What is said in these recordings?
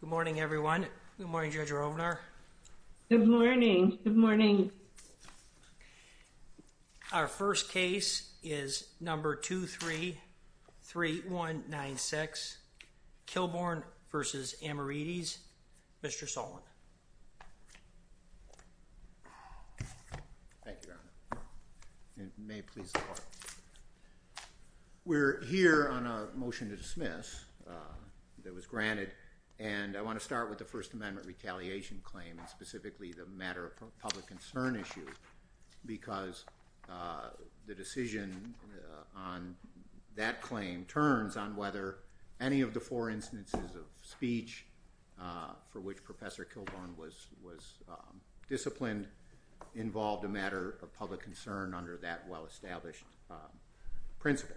Good morning, everyone. Good morning, Judge Rovnar. Good morning. Good morning. Our first case is number 233196, Kilborn v. Amiridis. Mr. Sullivan. Thank you, Your Honor. It may be difficult to hear on a motion to dismiss that was granted, and I want to start with the First Amendment retaliation claim and specifically the matter of public concern issue because the decision on that claim turns on whether any of the four instances of speech for which Professor Kilborn was disciplined involved a matter of public concern under that well-established principle.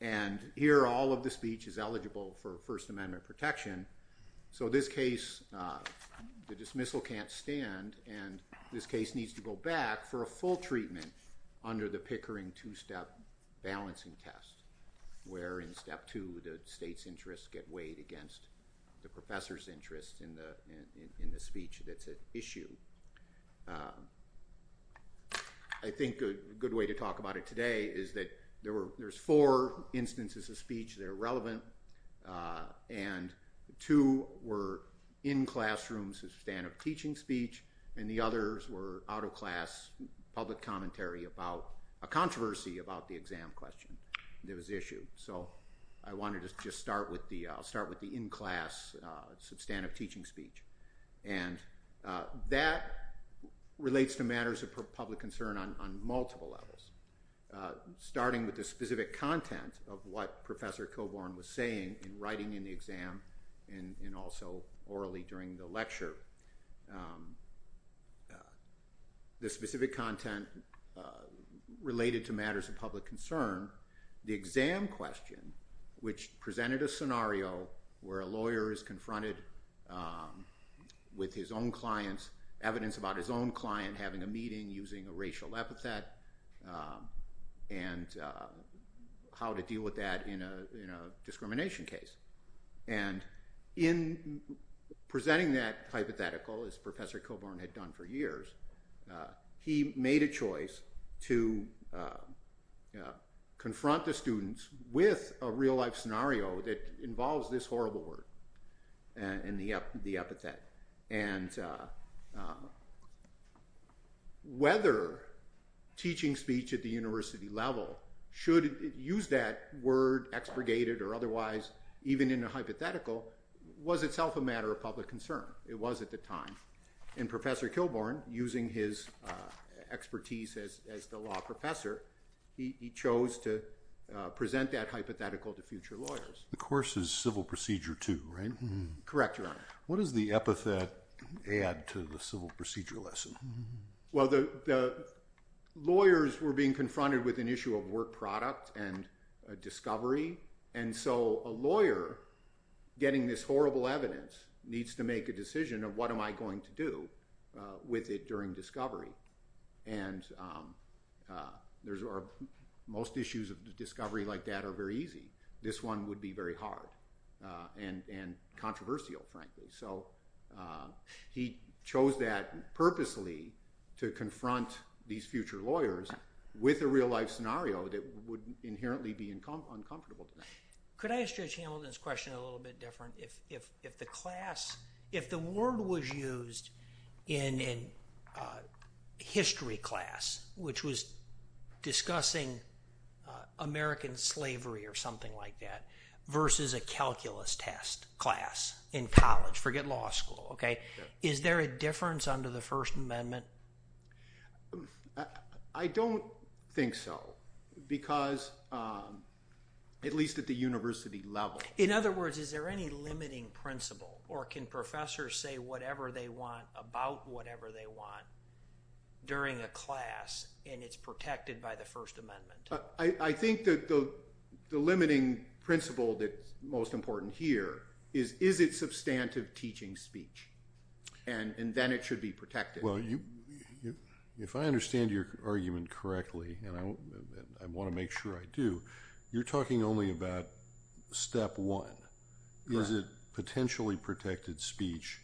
And here, all of the speech is eligible for First Amendment protection, so this case, the dismissal can't stand, and this case needs to go back for a full treatment under the Pickering two-step balancing test, where in step two, the state's against the professor's interest in the speech that's at issue. I think a good way to talk about it today is that there's four instances of speech that are relevant, and two were in classrooms to stand up teaching speech, and the others were out of class public commentary about a controversy about the exam question that was issued. So I wanted to just start with the in-class substantive teaching speech, and that relates to matters of public concern on multiple levels, starting with the specific content of what Professor Kilborn was saying in writing in the exam, and also orally during the lecture. The specific content related to matters of public concern, the exam question, which presented a scenario where a lawyer is confronted with his own client's evidence about his own client having a meeting using a racial epithet, and how to deal with that in a discrimination case. And in presenting that hypothetical, as Professor Kilborn had done for years, he made a choice to confront the students with a real-life scenario that involves this horrible word, and the epithet. And whether teaching speech at the university level should use that word, expurgated or otherwise, even in a hypothetical, was itself a matter of public concern. It was at the time. And Professor Kilborn, using his expertise as the law professor, he chose to present that hypothetical to future lawyers. The course is Civil Procedure II, right? Correct, Your Honor. What does the epithet add to the civil procedure lesson? Well, the lawyers were being confronted with an issue of work product and discovery. And so a lawyer getting this horrible evidence needs to make a decision of what am I going to do with it during discovery. And most issues of discovery like that are very easy. This one would be very hard and controversial, frankly. So he chose that purposely to confront these future lawyers with a real-life scenario that would inherently be uncomfortable to them. Could I ask Judge Hamilton's question a little bit different? If the class, if the word was used in a history class, which was discussing American slavery or something like that, versus a calculus test class in college, forget law school, okay, is there a difference under the First Amendment? I don't think so, because at least at the university level. In other words, is there any limiting principle? Or can professors say whatever they want about whatever they want during a class and it's protected by the First Amendment? I think that the limiting principle that's most important here is, is it substantive teaching speech? And then it should be protected. Well, if I understand your argument correctly, and I want to make sure I do, you're talking only about step one. Is it potentially protected speech?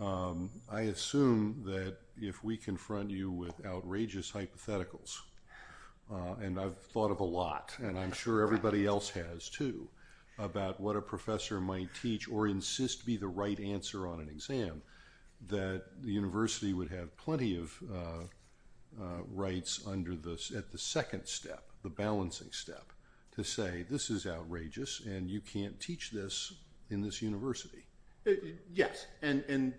I assume that if we confront you with outrageous hypotheticals, and I've thought of a lot, and I'm sure everybody else has too, about what a professor might teach or insist be the right answer on an exam, that the university would have plenty of rights at the second step, the balancing step, to say this is outrageous and you can't teach this in this university. Yes. And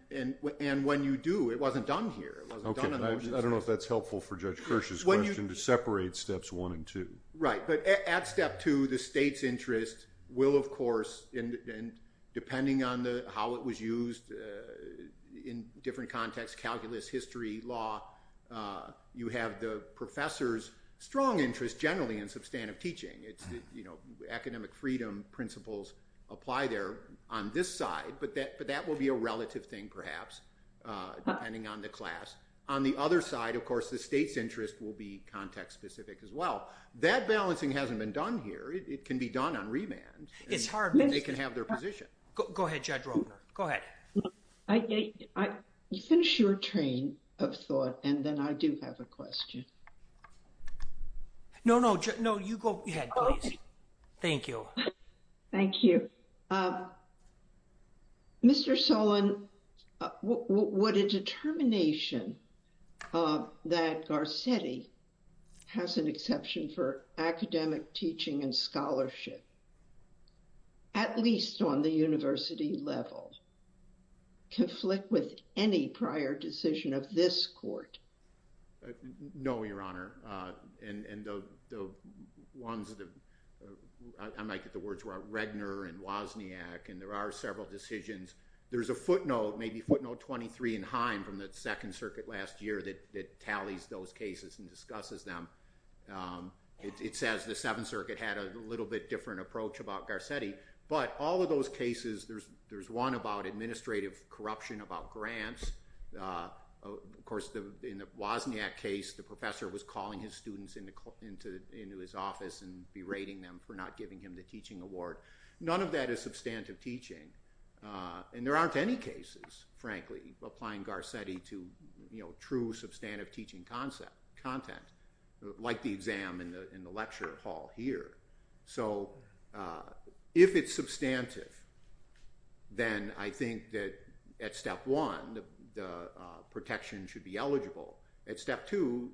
when you do, it wasn't done here. I don't know if that's helpful for Judge Kirsch's question to separate steps one and two. Right. But at step two, the state's interest will, of course, and depending on how it was used in different contexts, calculus, history, law, you have the professor's strong interest generally in substantive teaching. It's the academic freedom principles apply there on this side, but that will be a relative thing, perhaps, depending on the class. On the other side, of course, the state's interest will be context-specific as well. That balancing hasn't been done here. It can be done on remand. It's hard. They can have their position. Go ahead, Judge Roper. Go ahead. You finish your train of thought, and then I do have a question. No, no. No, you go ahead, please. Thank you. Thank you. Mr. Sullen, would a determination that Garcetti has an exception for academic teaching and scholarship, at least on the university level, conflict with any prior decision of this court? No, Your Honor. I might get the words wrong. Redner and Wozniak, and there are several decisions. There's a footnote, maybe footnote 23 in Heim from the Second Circuit last year that tallies those cases and discusses them. It says the Seventh Circuit had a little bit different approach about Garcetti, but all of those cases, there's one about administrative corruption about grants. Of course, in the Wozniak case, the professor was calling his students into his office and berating them for not giving him the teaching award. None of that is substantive teaching, and there aren't any cases, frankly, applying Garcetti to true substantive teaching content, like the exam in the lecture hall here. So if it's substantive, then I think that at step one, the protection should be eligible. At step two,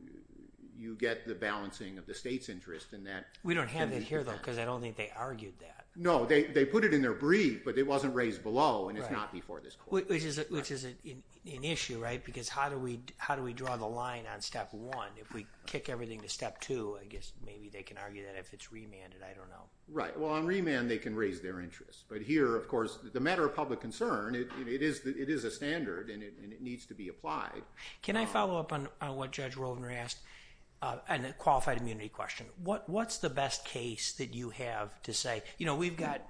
you get the balancing of the state's interest in that. We don't have it here, though, because I don't think they argued that. No, they put it in their brief, but it wasn't raised below, and it's not before this court. Which is an issue, right? Because how do we draw the line on step one? If we kick everything to step two, I guess maybe they can argue that if it's remanded, I don't know. Right. Well, on remand, they can raise their interest. But here, of course, the matter of public concern, it is a standard, and it needs to be applied. Can I follow up on what Judge Rovner asked, on the qualified immunity question? What's the best case that you have to say? We've got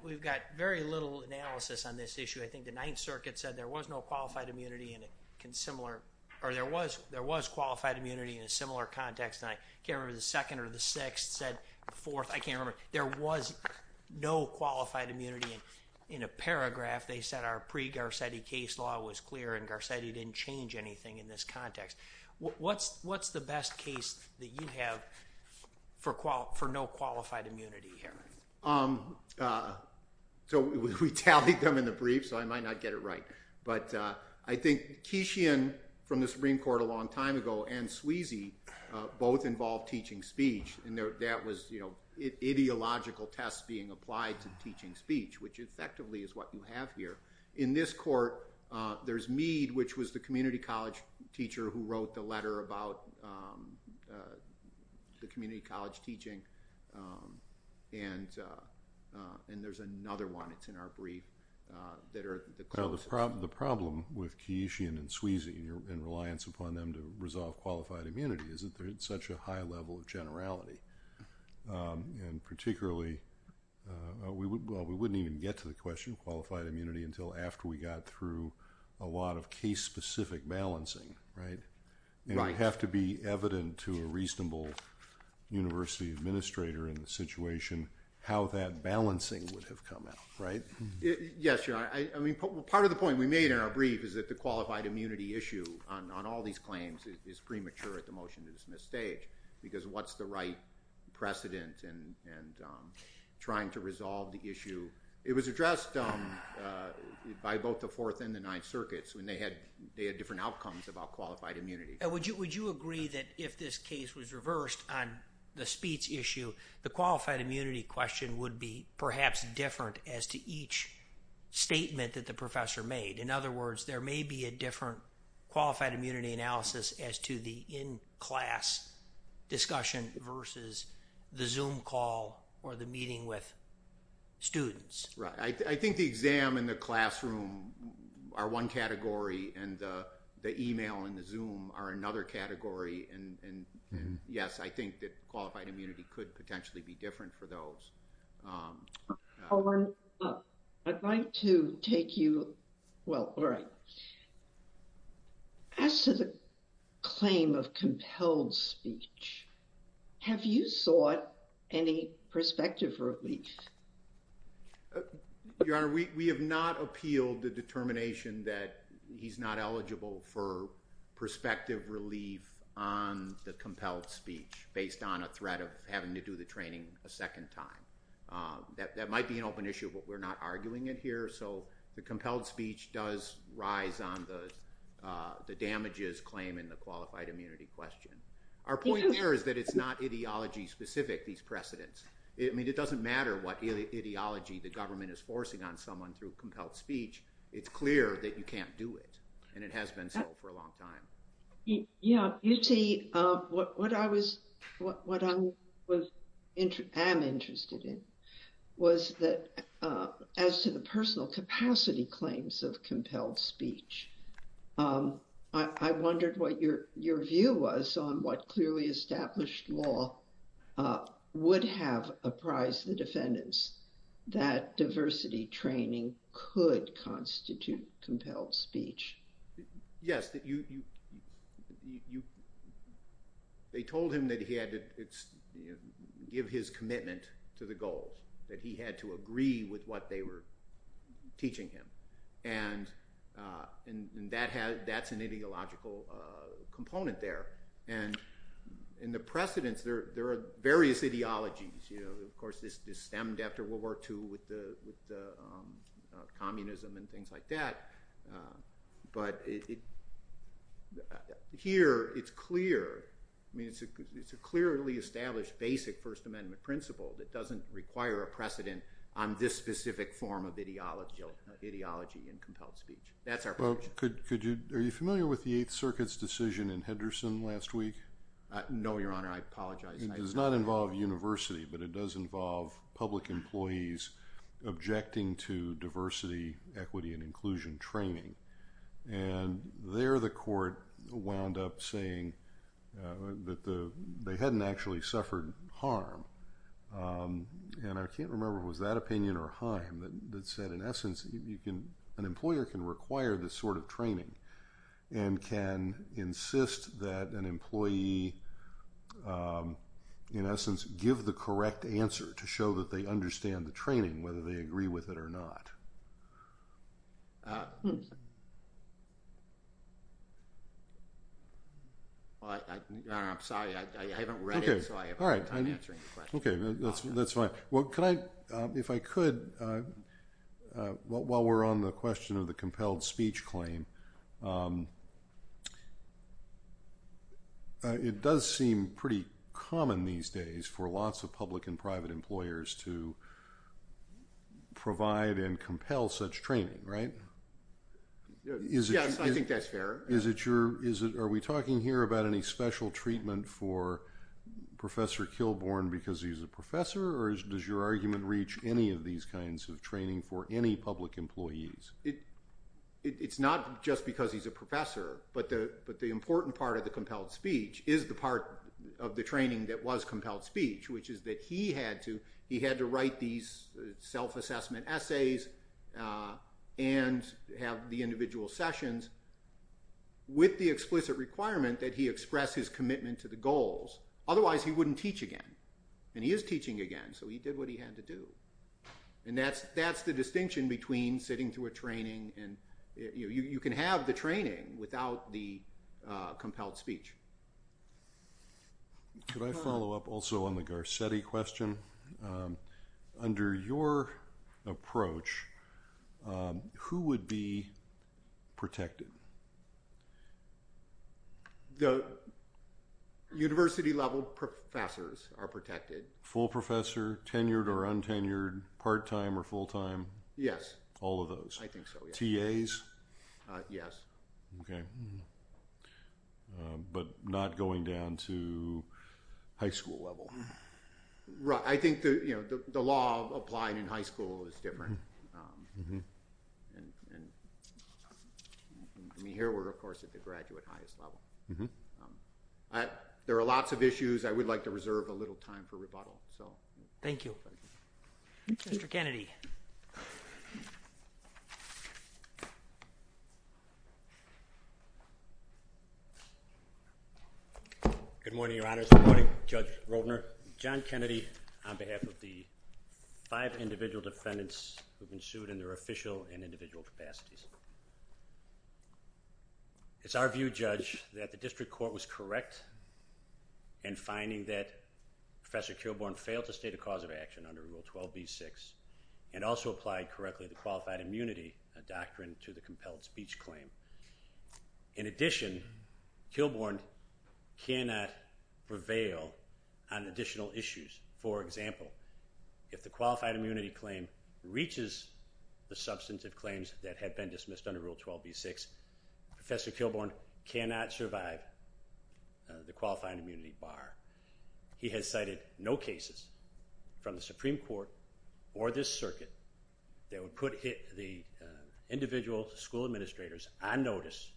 very little analysis on this issue. I think the Ninth Circuit said there was no qualified immunity in a similar, or there was immunity in a similar context, and I can't remember if it was the second or the sixth, said the fourth, I can't remember. There was no qualified immunity. In a paragraph, they said our pre-Garcetti case law was clear, and Garcetti didn't change anything in this context. What's the best case that you have for no qualified immunity here? So, we tallied them in the brief, so I might not get it right. But I think Keishian, from the Supreme Court a long time ago, and Sweezy, both involved teaching speech, and that was ideological tests being applied to teaching speech, which effectively is what you have here. In this court, there's Meade, which was the community college teacher who wrote the letter about the community college teaching, and there's another one that's in our brief. Now, the problem with Keishian and Sweezy and reliance upon them to resolve qualified immunity is that there's such a high level of generality, and particularly, well, we wouldn't even get to the question of qualified immunity until after we got through a lot of case-specific balancing, right? It would have to be evident to a reasonable university administrator in the situation how that balancing would have come out, right? Yes, Your Honor. I mean, part of the point we made in our brief is that the qualified immunity issue on all these claims is premature at the motion-to-dismiss stage, because what's the right precedent and trying to resolve the issue? It was addressed by both the Fourth and the Ninth Circuits when they had different outcomes about qualified immunity. Would you agree that if this case was reversed on the speech issue, the qualified immunity question would be perhaps different as to each statement that the professor made? In other words, there may be a different qualified immunity analysis as to the in-class discussion versus the Zoom call or the meeting with students. Right. I think the exam and the classroom are one category, and the email and the Zoom are another category, and yes, I think that qualified immunity would be different for those. I'd like to take you, well, all right. As to the claim of compelled speech, have you sought any prospective relief? Your Honor, we have not appealed the determination that he's not eligible for prospective relief on the compelled speech based on a threat of having to do the training a second time. That might be an open issue, but we're not arguing it here. The compelled speech does rise on the damages claim in the qualified immunity question. Our point there is that it's not ideology-specific, these precedents. It doesn't matter what ideology the government is forcing on someone through compelled speech. It's clear that you can't do it, and it has been so for a long time. Yeah. You see, what I am interested in was that as to the personal capacity claims of compelled speech, I wondered what your view was on what clearly established law would have apprised the that diversity training could constitute compelled speech. Yes. They told him that he had to give his commitment to the goals, that he had to agree with what they were teaching him, and that's an ideological component there. In the precedents, there are various ideologies. Of course, this stemmed after World War II with communism and things like that. Here, it's clear. It's a clearly established basic First Amendment principle that doesn't require a precedent on this specific form of ideology in compelled speech. That's our position. Are you familiar with the Eighth Circuit's decision in Henderson last week? No, Your Honor. I apologize. It does not involve university, but it does involve public employees objecting to diversity, equity, and inclusion training. There, the court wound up saying that they hadn't actually suffered harm. I can't remember if it was that opinion or Haim that said, in essence, an employer can require this sort of training and can insist that an employee, in essence, give the correct answer to show that they understand the training, whether they agree with it or not. Your Honor, I'm sorry. I haven't read it, so I'm not answering the question. That's fine. While we're on the question of the compelled speech claim, it does seem pretty common these days for lots of public and private employers to provide and compel such training, right? Yes, I think that's fair. Are we talking here about any special treatment for Professor Kilbourn because he's a professor, or does your argument reach any of these kinds of training for any public employees? It's not just because he's a professor, but the important part of the compelled speech is the part of the training that was compelled speech, which is that he had to write these self-assessment essays and have the individual sessions with the explicit requirement that he express his commitment to the goals. Otherwise, he wouldn't teach again, and he is teaching again, so he did what he had to do. That's the distinction between sitting through a training. You can have the training without the compelled speech. Could I follow up also on the Garcetti question? Under your approach, who would be protected? The university-level professors are protected. Full professor, tenured or untenured, part-time or full-time? Yes. All of those? I think so, yes. TAs? Yes. Okay, but not going down to high school level? Right. I think the law of applying in high school is different. Here, we're, of course, at the graduate highest level. There are lots of issues. I would like to reserve a little time for rebuttal. Thank you. Mr. Kennedy. Good morning, Your Honors. Good morning, Judge Rodner. John Kennedy on behalf of the five individual defendants who have been sued in their official and individual capacities. It's our view, Judge, that the district court was correct in finding that Professor Kilbourn failed to state a cause of action under Rule 12b-6 and also applied correctly the qualified immunity doctrine to the compelled speech claim. In addition, Kilbourn cannot prevail on additional issues. For example, if the qualified immunity claim reaches the substantive claims that had been dismissed under Rule 12b-6, Professor Kilbourn cannot survive the qualified immunity bar. He has cited no cases from the Supreme Court or this circuit that would put the individual school administrators on notice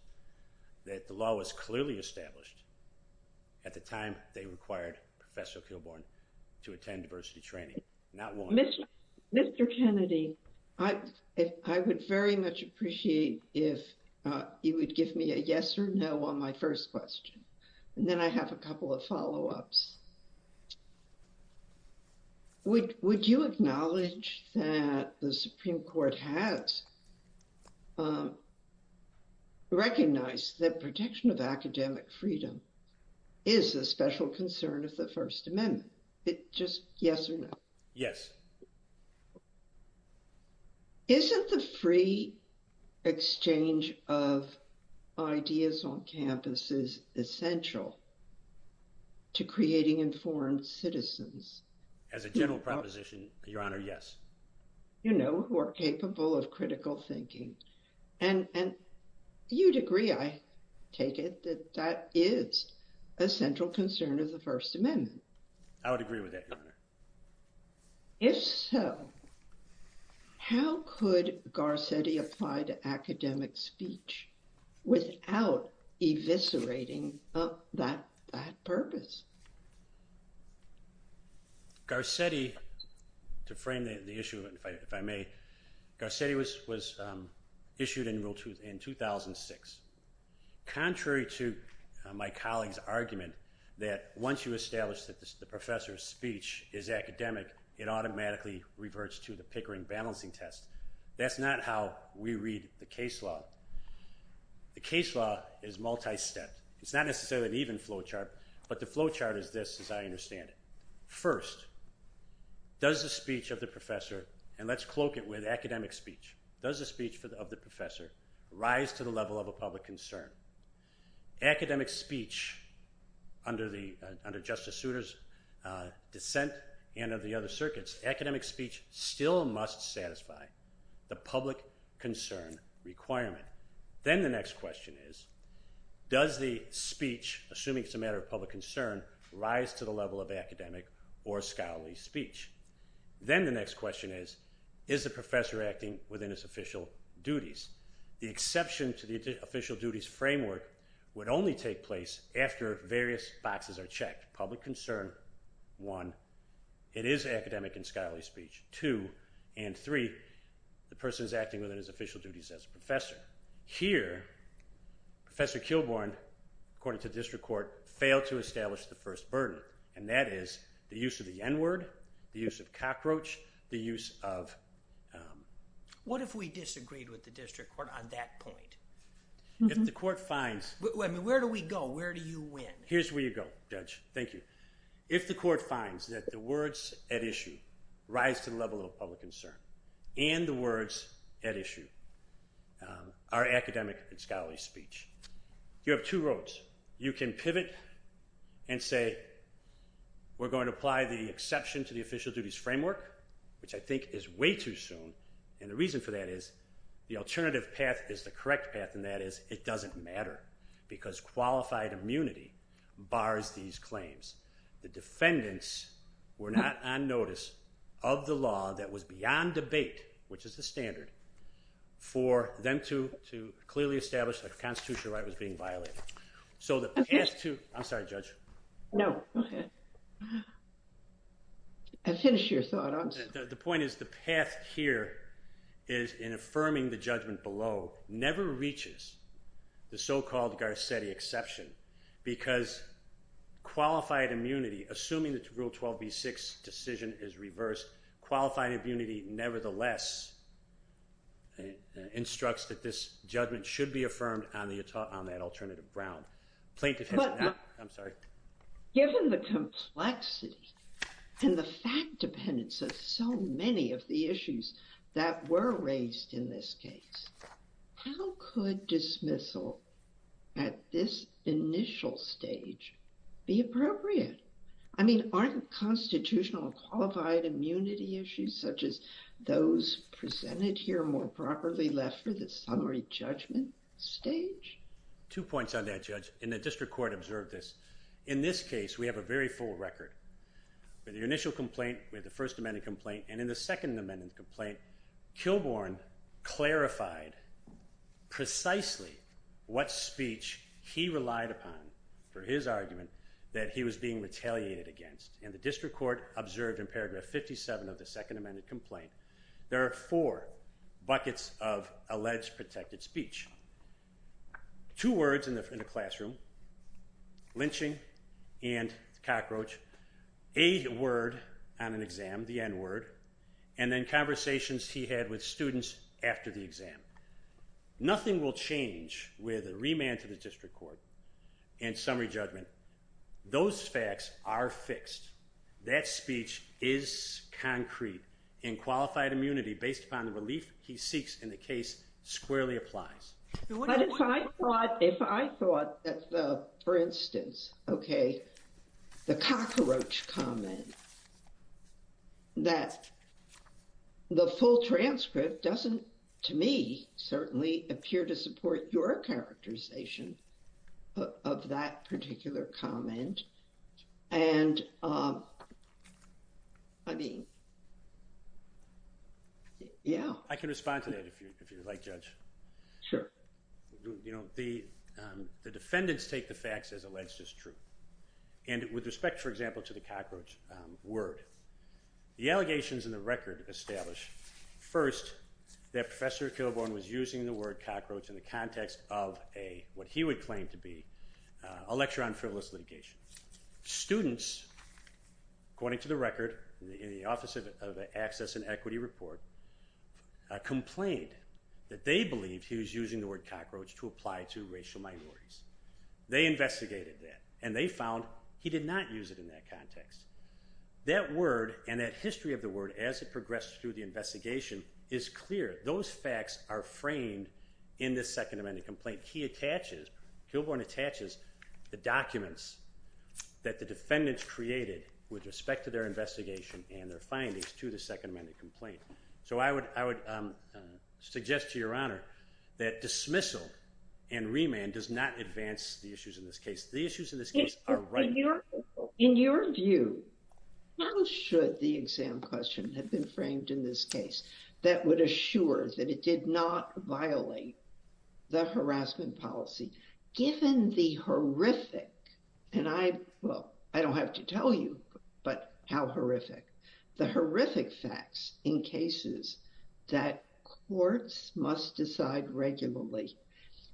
that the law was clearly established at the time they required Professor Kilbourn to attend diversity training. Mr. Kennedy, I would very much appreciate if you would give me a yes or no on my first question, and then I have a couple of follow-ups. Would you acknowledge that the Supreme Court has recognized that protection of academic freedom is a special concern of the First Amendment? Is it just yes or no? Yes. Isn't the free exchange of ideas on campuses essential to creating informed citizens? As a general proposition, Your Honor, yes. You know, who are capable of critical thinking, and you'd agree, I take it, that that is a central concern of the First Amendment. I would agree with that, Your Honor. If so, how could Garcetti apply to academic speech without eviscerating that purpose? Garcetti, to frame the issue, if I may, Garcetti was issued in 2006. Contrary to my colleague's argument that once you establish that the professor's speech is academic, it automatically reverts to the Pickering balancing test. That's not how we read the case law. The case law is multi-step. It's not necessarily an even flowchart, but the flowchart is this, as I understand it. First, does the speech of the professor, and let's cloak it with academic speech, does the speech of the professor rise to the level of a public concern? Academic speech under Justice Souter's dissent and of the other circuits, academic speech still must satisfy the public concern requirement. Then the next question is, does the speech, assuming it's a matter of public concern, rise to the level of academic or scholarly speech? Then the next question is, is the professor acting within his official duties? The exception to the official duties framework would only take place after various boxes are checked. Public concern, one, it is academic and scholarly speech, two, and three, the person is acting within his official duties as a professor. Here, Professor Kilbourn, according to district court, failed to establish the first burden, and that is the use of the N-word, the use of cockroach, the use of... What if we disagreed with the district court on that point? If the court finds... Where do we go? Where do you win? Here's where you go, Judge. Thank you. If the court finds that the words at issue rise to the level of public concern and the words at issue are academic and scholarly speech, you have two roads. You can pivot and say, we're going to apply the exception to the official duties framework, which I think is way too soon. And the reason for that is the alternative path is the correct path, and that is it doesn't matter because qualified immunity bars these claims. The defendants were not on notice of the law that was beyond debate, which is the standard, for them to clearly establish that constitutional right was being violated. So the path to... I'm sorry, Judge. No, go ahead. I finished your thought. The point is the path here is in affirming the judgment below never reaches the so-called exception, because qualified immunity, assuming that rule 12b-6 decision is reversed, qualified immunity nevertheless instructs that this judgment should be affirmed on that alternative ground. Plaintiff has... I'm sorry. Given the complexity and the fact dependence of so many of the issues that were raised in this case, how could dismissal at this initial stage be appropriate? I mean, aren't constitutional and qualified immunity issues such as those presented here more properly left for the summary judgment stage? Two points on that, Judge. And the district court observed this. In this case, we have a very full record. In the initial complaint, we had the First Amendment complaint, and in the Second Amendment complaint, Kilbourn clarified precisely what speech he relied upon for his argument that he was being retaliated against. And the district court observed in paragraph 57 of the Second Amendment complaint, there are four buckets of alleged protected speech. Two words in the classroom, lynching and cockroach, a word on an exam, the n-word, and then conversations he had with students after the exam. Nothing will change with a remand to the district court and summary judgment. Those facts are fixed. That speech is concrete, and qualified immunity based upon the relief he seeks in the case squarely applies. But if I thought, for instance, okay, the cockroach comment, that the full transcript doesn't, to me, certainly appear to support your characterization of that particular comment. And I mean, yeah. I can respond to that if you'd like, Judge. Sure. You know, the defendants take the facts as alleged as true. And with respect, for example, to the cockroach word, the allegations in the record establish, first, that Professor Kilbourn was using the word cockroach in the context of a, what he would claim to be, a lecture on frivolous litigation. Students, according to the record, in the Office of Access and Equity Report, complained that they believed he was using the word cockroach to apply to racial minorities. They investigated that, and they found he did not use it in that context. That word and that history of the word, as it progressed through the investigation, is clear. Those facts are framed in this Second Amendment complaint. He attaches, Kilbourn attaches, the documents that the defendants created with respect to their investigation and their findings to the Second Amendment complaint. So I would, I would suggest to Your Honor that dismissal and remand does not advance the issues in this case. The issues in this case are right. In your view, how should the exam question have been framed in this case that would assure that it did not violate the harassment policy, given the horrific, and I, well, I don't have to tell you, but how horrific, the horrific facts in cases that courts must decide regularly.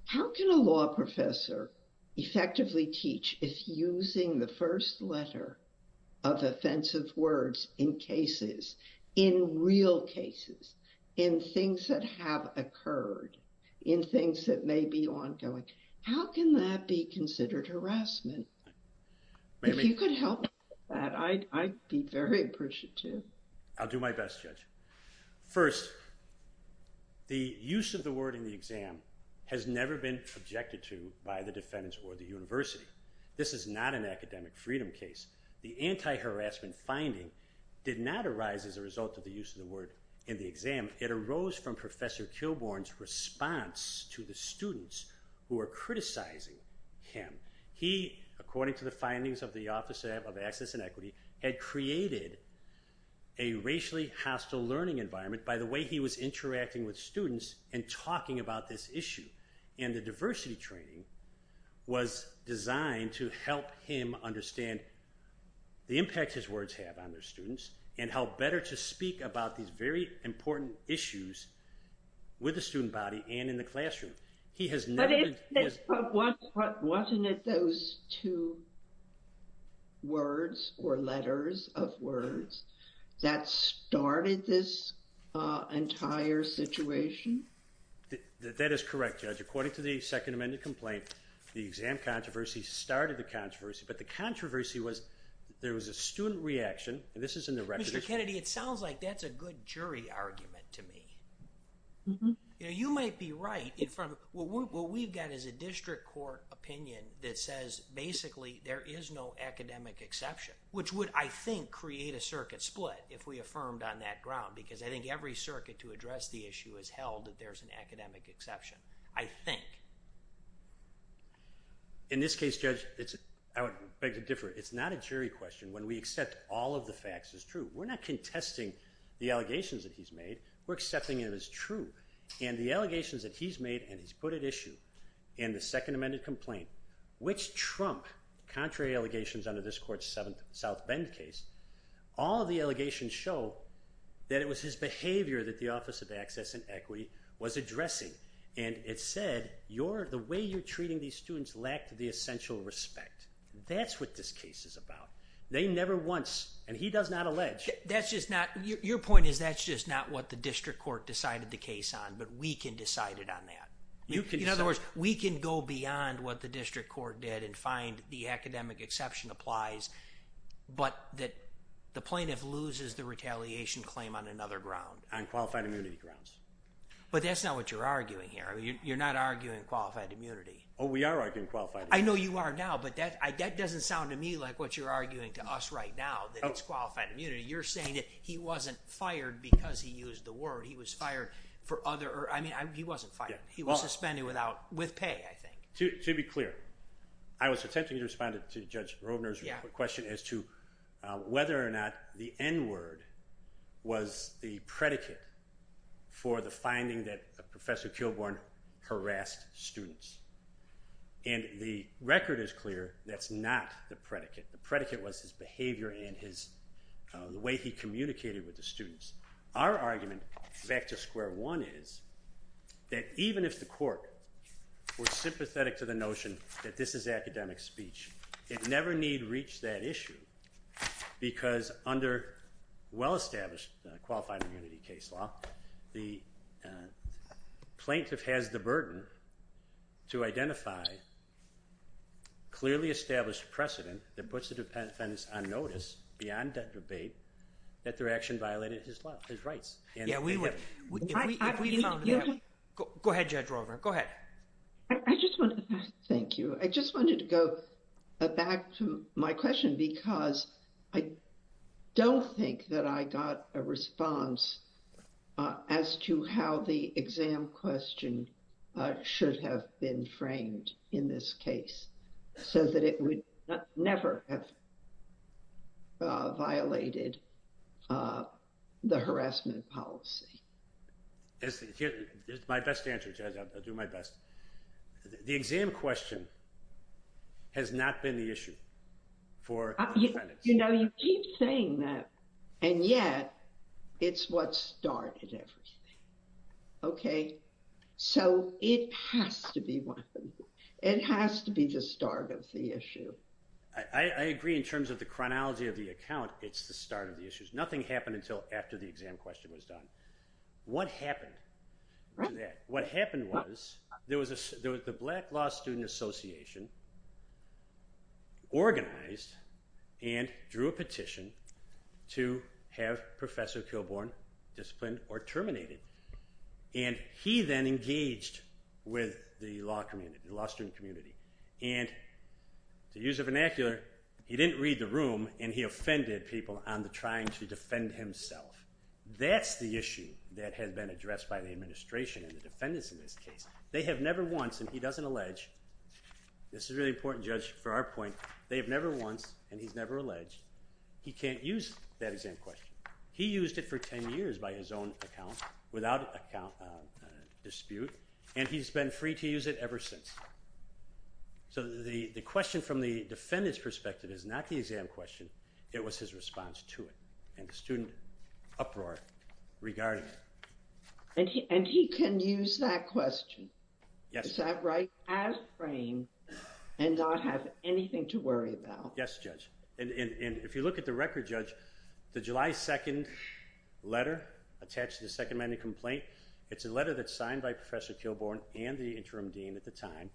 How can a law professor effectively teach if using the first letter of offensive words in cases, in real cases, in things that have occurred, in things that may be ongoing, how can that be considered harassment? If you could help me with that, I'd be very appreciative. I'll do my best, Judge. First, the use of the word in the exam has never been objected to by the defendants or the university. This is not an academic freedom case. The anti-harassment finding did not arise as a result of the use of the word in the exam. It arose from Professor Kilbourn's response to the students who are criticizing him. He, according to the findings of the Office of Access and Equity, had created a racially hostile learning environment by the way he was interacting with students and talking about this issue. And the diversity training was designed to help him understand the impact his words have on their students and how better to speak about these very important issues with the student body and in the classroom. He has never... But wasn't it those two words or letters of words that started this entire situation? That is correct, Judge. According to the Second Amendment complaint, the exam controversy started the controversy, but the controversy was there was a student reaction, and this is in the record... Mr. Kennedy, it sounds like that's a good jury argument to me. You might be right in front of... What we've got is a district court opinion that says, basically, there is no academic exception, which would, I think, create a circuit split if we affirmed on that ground, because I think every circuit to address the issue has held that there's an academic exception, I think. In this case, Judge, I would beg to differ. It's not a jury question when we accept all of the facts as true. We're not contesting the allegations that he's made. We're accepting it as true. And the allegations that he's made and he's put at issue in the Second Amendment complaint, which trump contrary allegations under this court's South Bend case, all of the allegations show that it was his behavior that the Office of Access and Equity was addressing. And it said, the way you're treating these students lacked the essential respect. That's what this case is about. They never once... And he does not allege. That's just not... Your point is that's just not what the district court decided the case on, but we can decide it on that. In other words, we can go beyond what the district court did and find the academic exception applies, but that the plaintiff loses the retaliation claim on another ground. On qualified immunity grounds. But that's not what you're arguing here. You're not arguing qualified immunity. Oh, we are arguing qualified immunity. I know you are now, but that doesn't sound to me like what you're arguing to us right now, that it's qualified immunity. You're saying that he wasn't fired because he used the word. He was fired for other... I mean, he wasn't fired. He was suspended without... With pay, I think. To be clear, I was attempting to respond to Judge Robner's question as to whether or not the N word was the predicate for the finding that Professor Kilbourn harassed students. And the record is clear, that's not the predicate. The predicate was his behavior and the way he communicated with the students. Our argument back to square one is that even if the court were sympathetic to the notion that this is academic speech, it never need reach that issue because under well-established qualified immunity case law, the plaintiff has the burden to identify clearly established precedent that puts the defendants on notice beyond that debate that their action violated his rights. Yeah, we would... Go ahead, Judge Robner, go ahead. I just want to... Thank you. I just wanted to go back to my question because I don't think that I got a response as to how the exam question should have been framed in this case. So that it would never have violated the harassment policy. It's my best answer, Judge, I'll do my best. The exam question has not been the issue for defendants. You know, you keep saying that and yet it's what started everything, okay? So it has to be one. It has to be the start of the issue. I agree in terms of the chronology of the account, it's the start of the issues. Nothing happened until after the exam question was done. What happened to that? What happened was there was the Black Law Student Association organized and drew a petition to have Professor Kilbourn disciplined or terminated. And he then engaged with the law community, the law student community. And to use a vernacular, he didn't read the room and he offended people on the trying to defend himself. That's the issue that has been addressed by the administration and the defendants in this case. They have never once, and he doesn't allege, this is really important, Judge, for our point, they have never once, and he's never alleged, he can't use that exam question. He used it for 10 years by his own account, without dispute, and he's been free to use it ever since. So the question from the defendant's perspective is not the exam question, it was his response to it. And the student uproar regarding it. And he can use that question, is that right, as framed and not have anything to worry about? Yes, Judge. And if you look at the record, Judge, the July 2nd letter attached to the Second Amendment complaint, it's a letter that's signed by Professor Kilbourn and the interim dean at the time,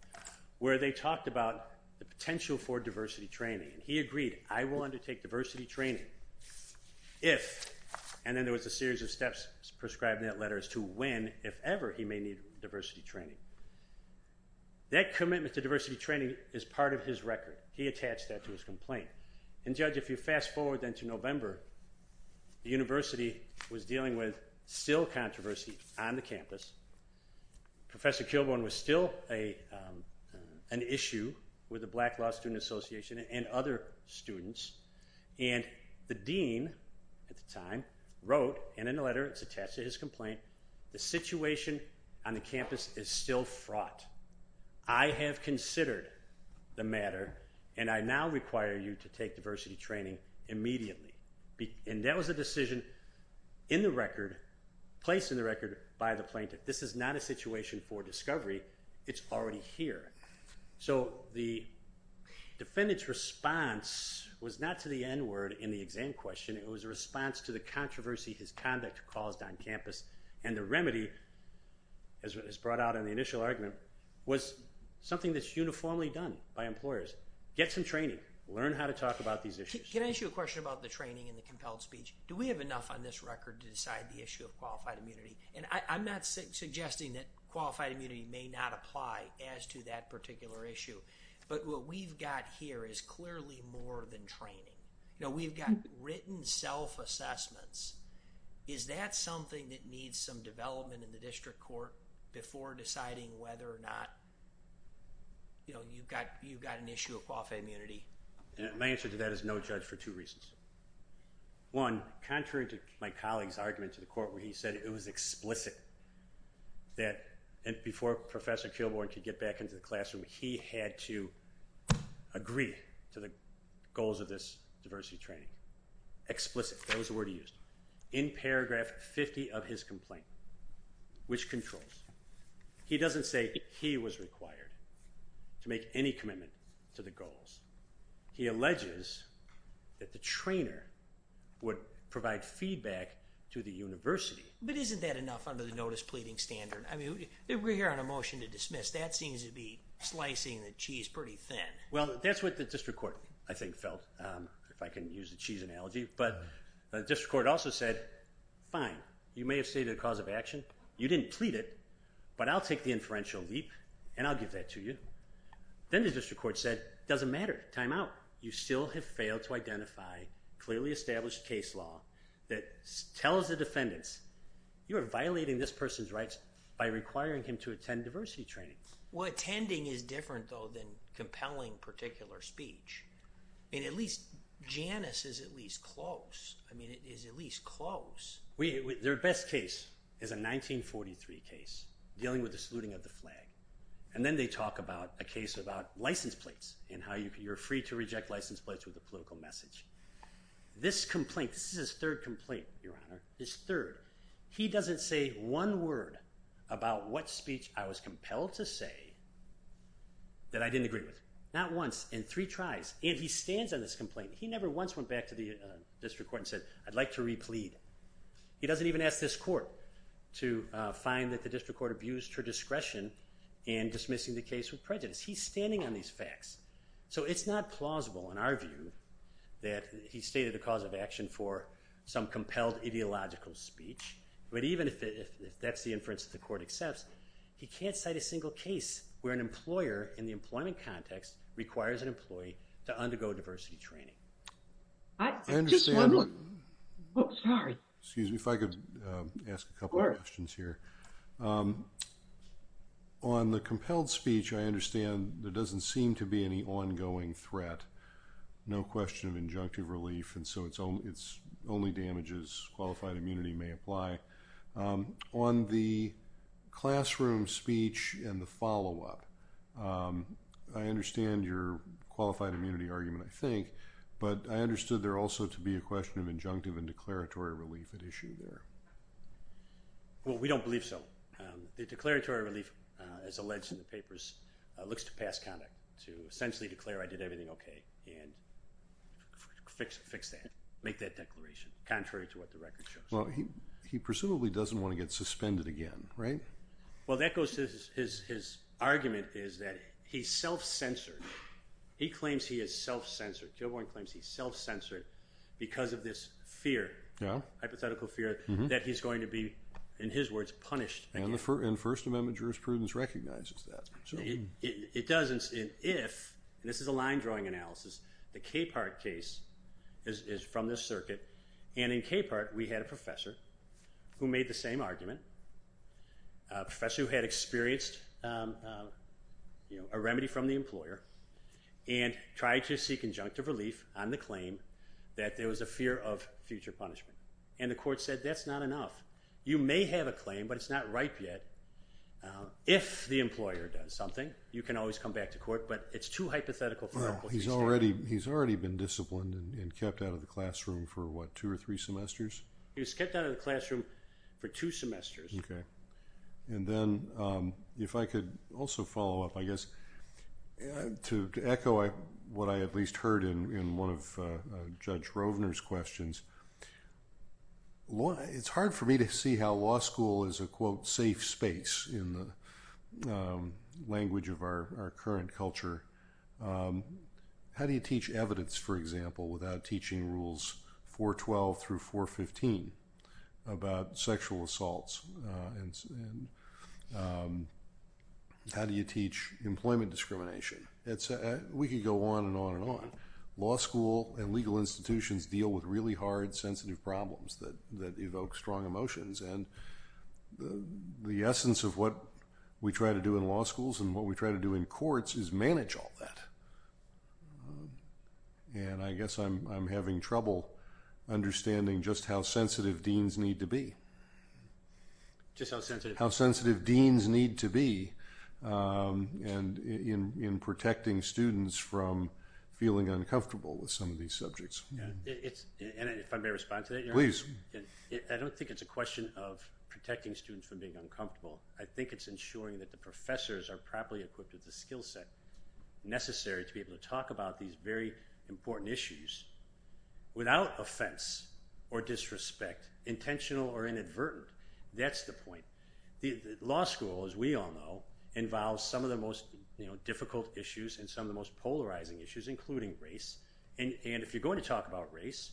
where they talked about the potential for diversity training. And he agreed, I will undertake diversity training if, and then there was a series of steps prescribed in that letter as to when, if ever he may need diversity training. That commitment to diversity training is part of his record. He attached that to his complaint. And Judge, if you fast forward then to November, the university was dealing with still controversy on the campus. Professor Kilbourn was still an issue with the Black Law Student Association and other students. And the dean at the time wrote, and in the letter it's attached to his complaint, the situation on the campus is still fraught. I have considered the matter and I now require you to take diversity training immediately. And that was a decision in the record, placed in the record by the plaintiff. This is not a situation for discovery. It's already here. So the defendant's response was not to the N word in the exam question. It was a response to the controversy his conduct caused on campus. And the remedy, as was brought out in the initial argument, was something that's uniformly done by employers. Get some training. Learn how to talk about these issues. Can I ask you a question about the training and the compelled speech? Do we have enough on this record to decide the issue of qualified immunity? And I'm not suggesting that qualified immunity may not apply as to that particular issue. But what we've got here is clearly more than training. You know, we've got written self-assessments. Is that something that needs some development in the district court before deciding whether or not, you know, you've got an issue of qualified immunity? My answer to that is no, Judge, for two reasons. One, contrary to my colleague's argument to the court where he said it was explicit that before Professor Kilbourne could get back into the classroom, he had to agree to the goals of this diversity training. Explicit. That was the word he used. In paragraph 50 of his complaint, which controls. He doesn't say he was required to make any commitment to the goals. He alleges that the trainer would provide feedback to the university. But isn't that enough under the notice pleading standard? I mean, we're here on a motion to dismiss. That seems to be slicing the cheese pretty thin. Well, that's what the district court, I think, felt, if I can use the cheese analogy. But the district court also said, fine, you may have stated a cause of action. You didn't plead it. But I'll take the inferential leap and I'll give that to you. Then the district court said, doesn't matter, time out. You still have failed to identify clearly established case law that tells the defendants you are violating this person's rights by requiring him to attend diversity training. Well, attending is different, though, than compelling particular speech. And at least Janice is at least close. I mean, it is at least close. Their best case is a 1943 case dealing with the saluting of the flag. And then they talk about a case about license plates and how you're free to reject license plates with a political message. This complaint, this is his third complaint, Your Honor, his third. He doesn't say one word about what speech I was compelled to say that I didn't agree with. Not once in three tries. And he stands on this complaint. He never once went back to the district court and said, I'd like to replead. He doesn't even ask this court to find that the district court abused her discretion in dismissing the case with prejudice. He's standing on these facts. So it's not plausible, in our view, that he stated a cause of action for some compelled ideological speech. But even if that's the inference that the court accepts, he can't cite a single case where an employer, in the employment context, requires an employee to undergo diversity training. I understand. Just one more. Sorry. Excuse me, if I could ask a couple of questions here. On the compelled speech, I understand there doesn't seem to be any ongoing threat. No question of injunctive relief. And so it's only damages, qualified immunity may apply. On the classroom speech and the follow-up, I understand your qualified immunity argument, But I understood there also to be a question of injunctive and declaratory relief at issue there. Well, we don't believe so. The declaratory relief, as alleged in the papers, looks to past conduct, to essentially declare I did everything OK and fix that, make that declaration, contrary to what the record shows. He presumably doesn't want to get suspended again, right? Well, that goes to his argument is that he's self-censored. He claims he is self-censored. Kilbourn claims he's self-censored because of this fear, hypothetical fear, that he's going to be, in his words, punished again. And First Amendment jurisprudence recognizes that. It doesn't if, and this is a line drawing analysis, the Capehart case is from this circuit. And in Capehart, we had a professor who made the same argument, a professor who had experienced a remedy from the employer and tried to seek injunctive relief on the claim that there was a fear of future punishment. And the court said, that's not enough. You may have a claim, but it's not ripe yet. If the employer does something, you can always come back to court. But it's too hypothetical. He's already been disciplined and kept out of the classroom for what, two or three semesters? He was kept out of the classroom for two semesters. And then if I could also follow up, I guess, to echo what I at least heard in one of Judge Rovner's questions. It's hard for me to see how law school is a, quote, safe space in the language of our current culture. How do you teach evidence, for example, without teaching rules 412 through 415 about sexual assaults? How do you teach employment discrimination? We could go on and on and on. Law school and legal institutions deal with really hard, sensitive problems that evoke strong emotions. And the essence of what we try to do in law schools and what we try to do in courts is manage all that. And I guess I'm having trouble understanding just how sensitive deans need to be. Just how sensitive? How sensitive deans need to be in protecting students from feeling uncomfortable with some of these subjects. And if I may respond to that, Your Honor? Please. I don't think it's a question of protecting students from being uncomfortable. I think it's ensuring that the professors are properly equipped with the skill set necessary to be able to talk about these very important issues without offense or disrespect, intentional or inadvertent. That's the point. The law school, as we all know, involves some of the most difficult issues and some of the most polarizing issues, including race. And if you're going to talk about race,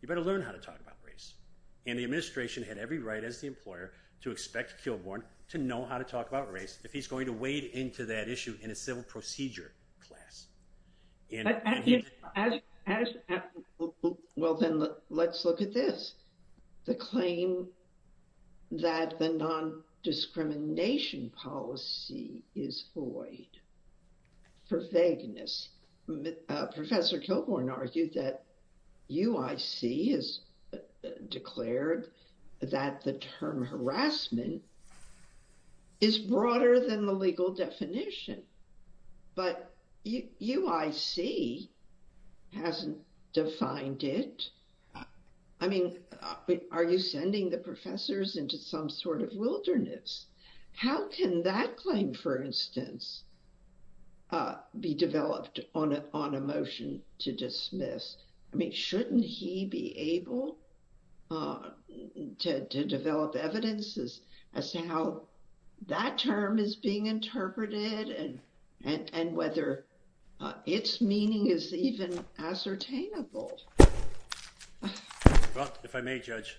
you better learn how to talk about race. And the administration had every right as the employer to expect Kilbourn to know how to talk about race. If he's going to wade into that issue in a civil procedure class. Well, then let's look at this. The claim that the non-discrimination policy is void for vagueness. Professor Kilbourn argued that UIC has declared that the term harassment discrimination is broader than the legal definition, but UIC hasn't defined it. I mean, are you sending the professors into some sort of wilderness? How can that claim, for instance, be developed on a motion to dismiss? I mean, shouldn't he be able to develop evidences? As to how that term is being interpreted and whether its meaning is even ascertainable. Well, if I may judge.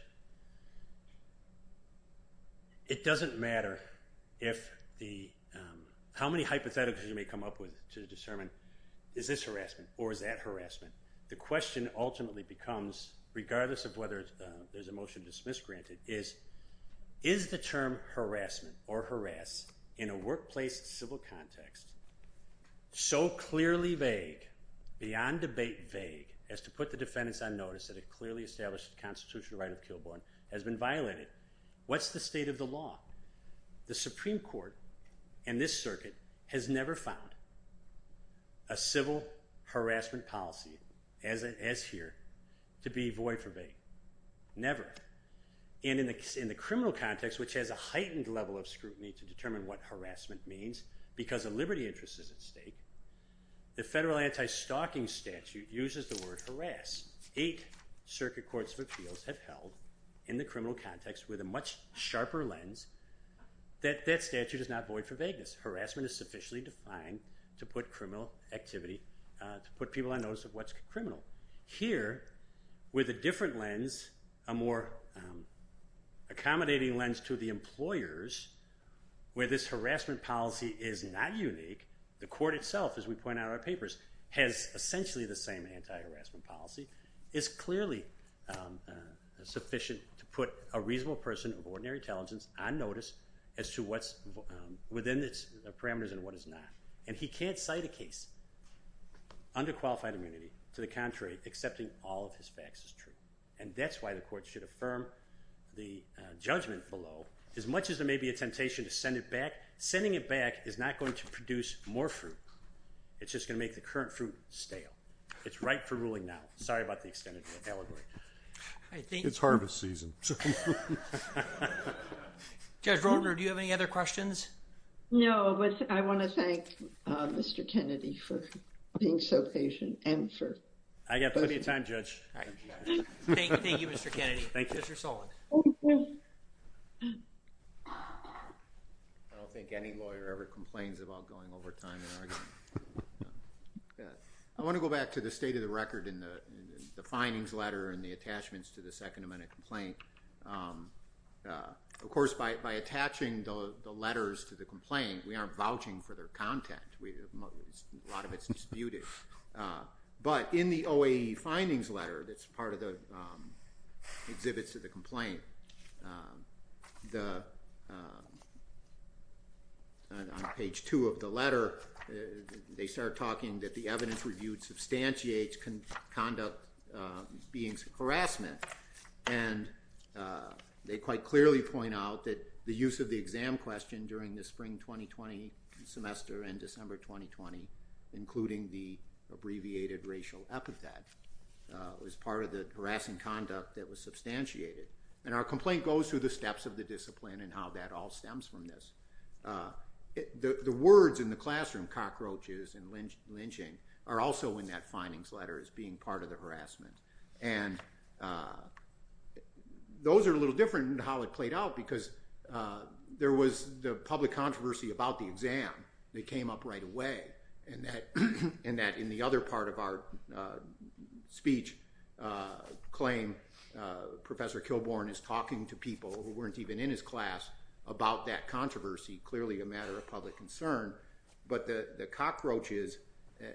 It doesn't matter how many hypotheticals you may come up with to determine, is this harassment or is that harassment? The question ultimately becomes, regardless of whether there's a motion to dismiss granted, is the term harassment or harass in a workplace civil context so clearly vague, beyond debate vague, as to put the defendants on notice that it clearly established the constitutional right of Kilbourn has been violated. What's the state of the law? The Supreme Court and this circuit has never found a civil harassment policy as here to be void for vague. Never. And in the criminal context, which has a heightened level of scrutiny to determine what harassment means because a liberty interest is at stake, the federal anti-stalking statute uses the word harass. Eight circuit courts of appeals have held in the criminal context with a much sharper lens that that statute is not void for vagueness. Harassment is sufficiently defined to put criminal activity, to put people on notice of what's criminal. Here, with a different lens, a more accommodating lens to the employers, where this harassment policy is not unique, the court itself, as we point out in our papers, has essentially the same anti-harassment policy. It's clearly sufficient to put a reasonable person of ordinary intelligence on notice as to what's within its parameters and what is not. And he can't cite a case under qualified immunity. To the contrary, accepting all of his facts is true. And that's why the court should affirm the judgment below. As much as there may be a temptation to send it back, sending it back is not going to produce more fruit. It's just going to make the current fruit stale. It's ripe for ruling now. Sorry about the extended allegory. It's harvest season. Judge Roldner, do you have any other questions? No, but I want to thank Mr. Kennedy for being so patient and for... I've got plenty of time, Judge. Thank you, Mr. Kennedy. Thank you, Mr. Sullivan. I don't think any lawyer ever complains about going over time and arguing. I want to go back to the state of the record in the findings letter and the attachments to the Second Amendment complaint. Of course, by attaching the letters to the complaint, we aren't vouching for their content. A lot of it's disputed. But in the OAE findings letter that's part of the exhibits to the complaint, on page two of the letter, they start talking that the evidence reviewed substantiates conduct being harassment. And they quite clearly point out that the use of the exam question during the spring 2020 semester and December 2020, including the abbreviated racial epithet, was part of the harassing conduct that was substantiated. And our complaint goes through the steps of the discipline and how that all stems from this. The words in the classroom, cockroaches and lynching, are also in that findings letter as being part of the harassment. And those are a little different in how it played out because there was the public controversy about the exam that came up right away. And that in the other part of our speech claim, Professor Kilbourn is talking to people who weren't even in his class about that controversy, clearly a matter of public concern. But the cockroaches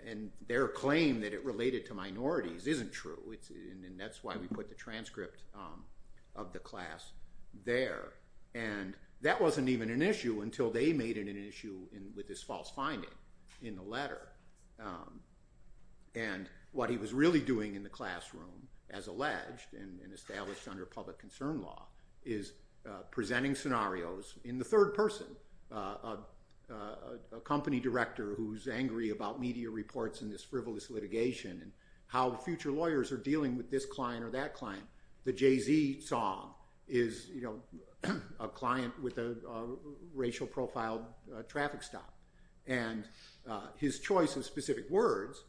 and their claim that it related to minorities isn't true, and that's why we put the transcript of the class there. And that wasn't even an issue until they made it an issue with this false finding in the letter. And what he was really doing in the classroom, as alleged and established under public concern law, is presenting scenarios in the third person, a company director who's angry about media reports and this frivolous litigation and how future lawyers are dealing with this client or that client. The Jay-Z song is a client with a racial profiled traffic stop. And his choice of specific words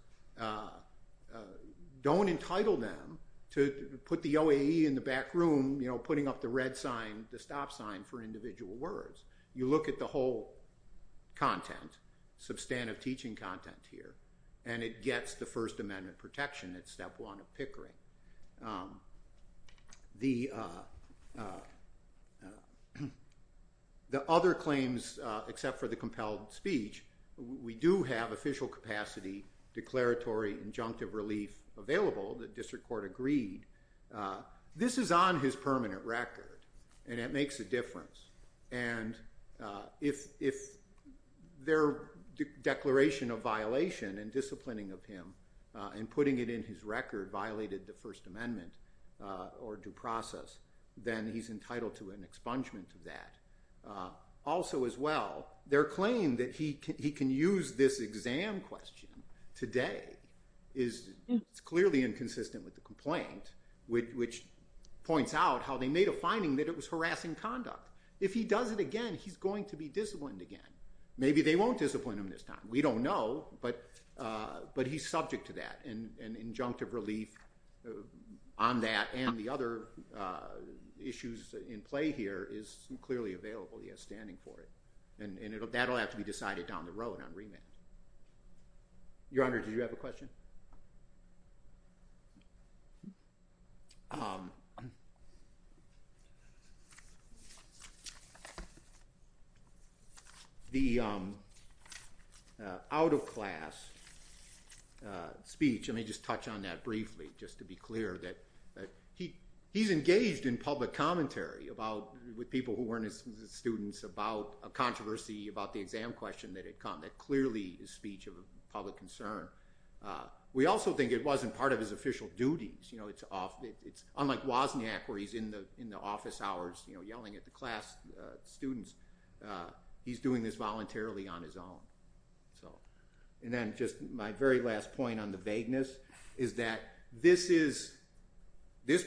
don't entitle them to put the OAE in the back room putting up the red sign, the stop sign, for individual words. You look at the whole content, substantive teaching content here, and it gets the First Amendment protection. It's step one of Pickering. The other claims, except for the compelled speech, we do have official capacity, declaratory injunctive relief available. The district court agreed. This is on his permanent record, and it makes a difference. And if their declaration of violation and disciplining of him and putting it in his record violated the First Amendment or due process, then he's entitled to an expungement of that. Also, as well, their claim that he can use this exam question today is clearly inconsistent with the complaint, which points out how they made a finding that it was harassing conduct. If he does it again, he's going to be disciplined again. Maybe they won't discipline him this time. We don't know. But he's subject to that. And injunctive relief on that and the other issues in play here is clearly available. He has standing for it. And that'll have to be decided down the road on remand. Your Honor, did you have a question? The out-of-class speech, let me just touch on that briefly, just to be clear that he's engaged in public commentary with people who weren't his students about a controversy about the exam question that had come. That clearly is speech of public concern. We also think it wasn't part of his official duties. Unlike Wozniak, where he's in the office hours yelling at the class students, he's doing this voluntarily on his own. And then just my very last point on the vagueness is that this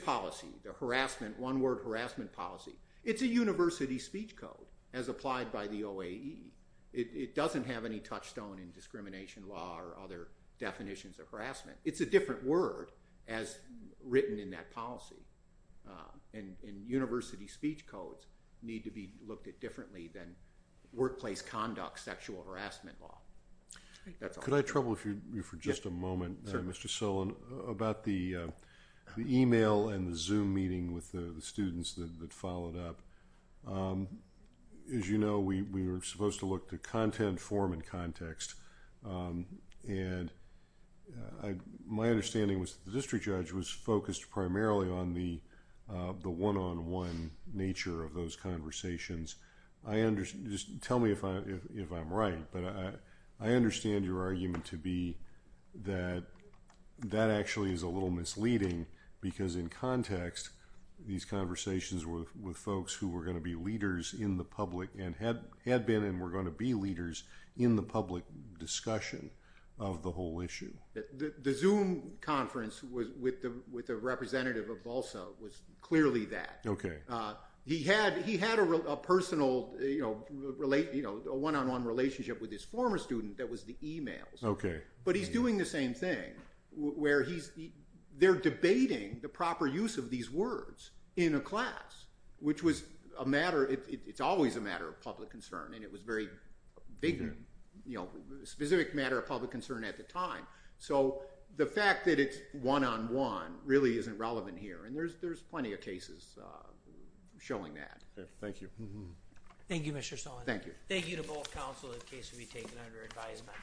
policy, the harassment, one-word harassment policy, it's a university speech code as applied by the OAE. It doesn't have any touchstone in discrimination law or other definitions of harassment. It's a different word as written in that policy. And university speech codes need to be looked at differently than workplace conduct sexual harassment law. Could I trouble you for just a moment, Mr. Sullivan, about the email and the Zoom meeting with the students that followed up? As you know, we were supposed to look to content, form, and context. And my understanding was that the district judge was focused primarily on the one-on-one nature of those conversations. Tell me if I'm right, but I understand your argument to be that that actually is a little were going to be leaders in the public and had been and were going to be leaders in the public discussion of the whole issue. The Zoom conference with the representative of BALSA was clearly that. He had a personal one-on-one relationship with his former student that was the emails. OK. But he's doing the same thing, where they're debating the proper use of these words in class, which was a matter, it's always a matter of public concern. And it was very big, you know, specific matter of public concern at the time. So the fact that it's one-on-one really isn't relevant here. And there's plenty of cases showing that. Thank you. Thank you, Mr. Sullivan. Thank you. Thank you to both counsel. The case will be taken under advisement.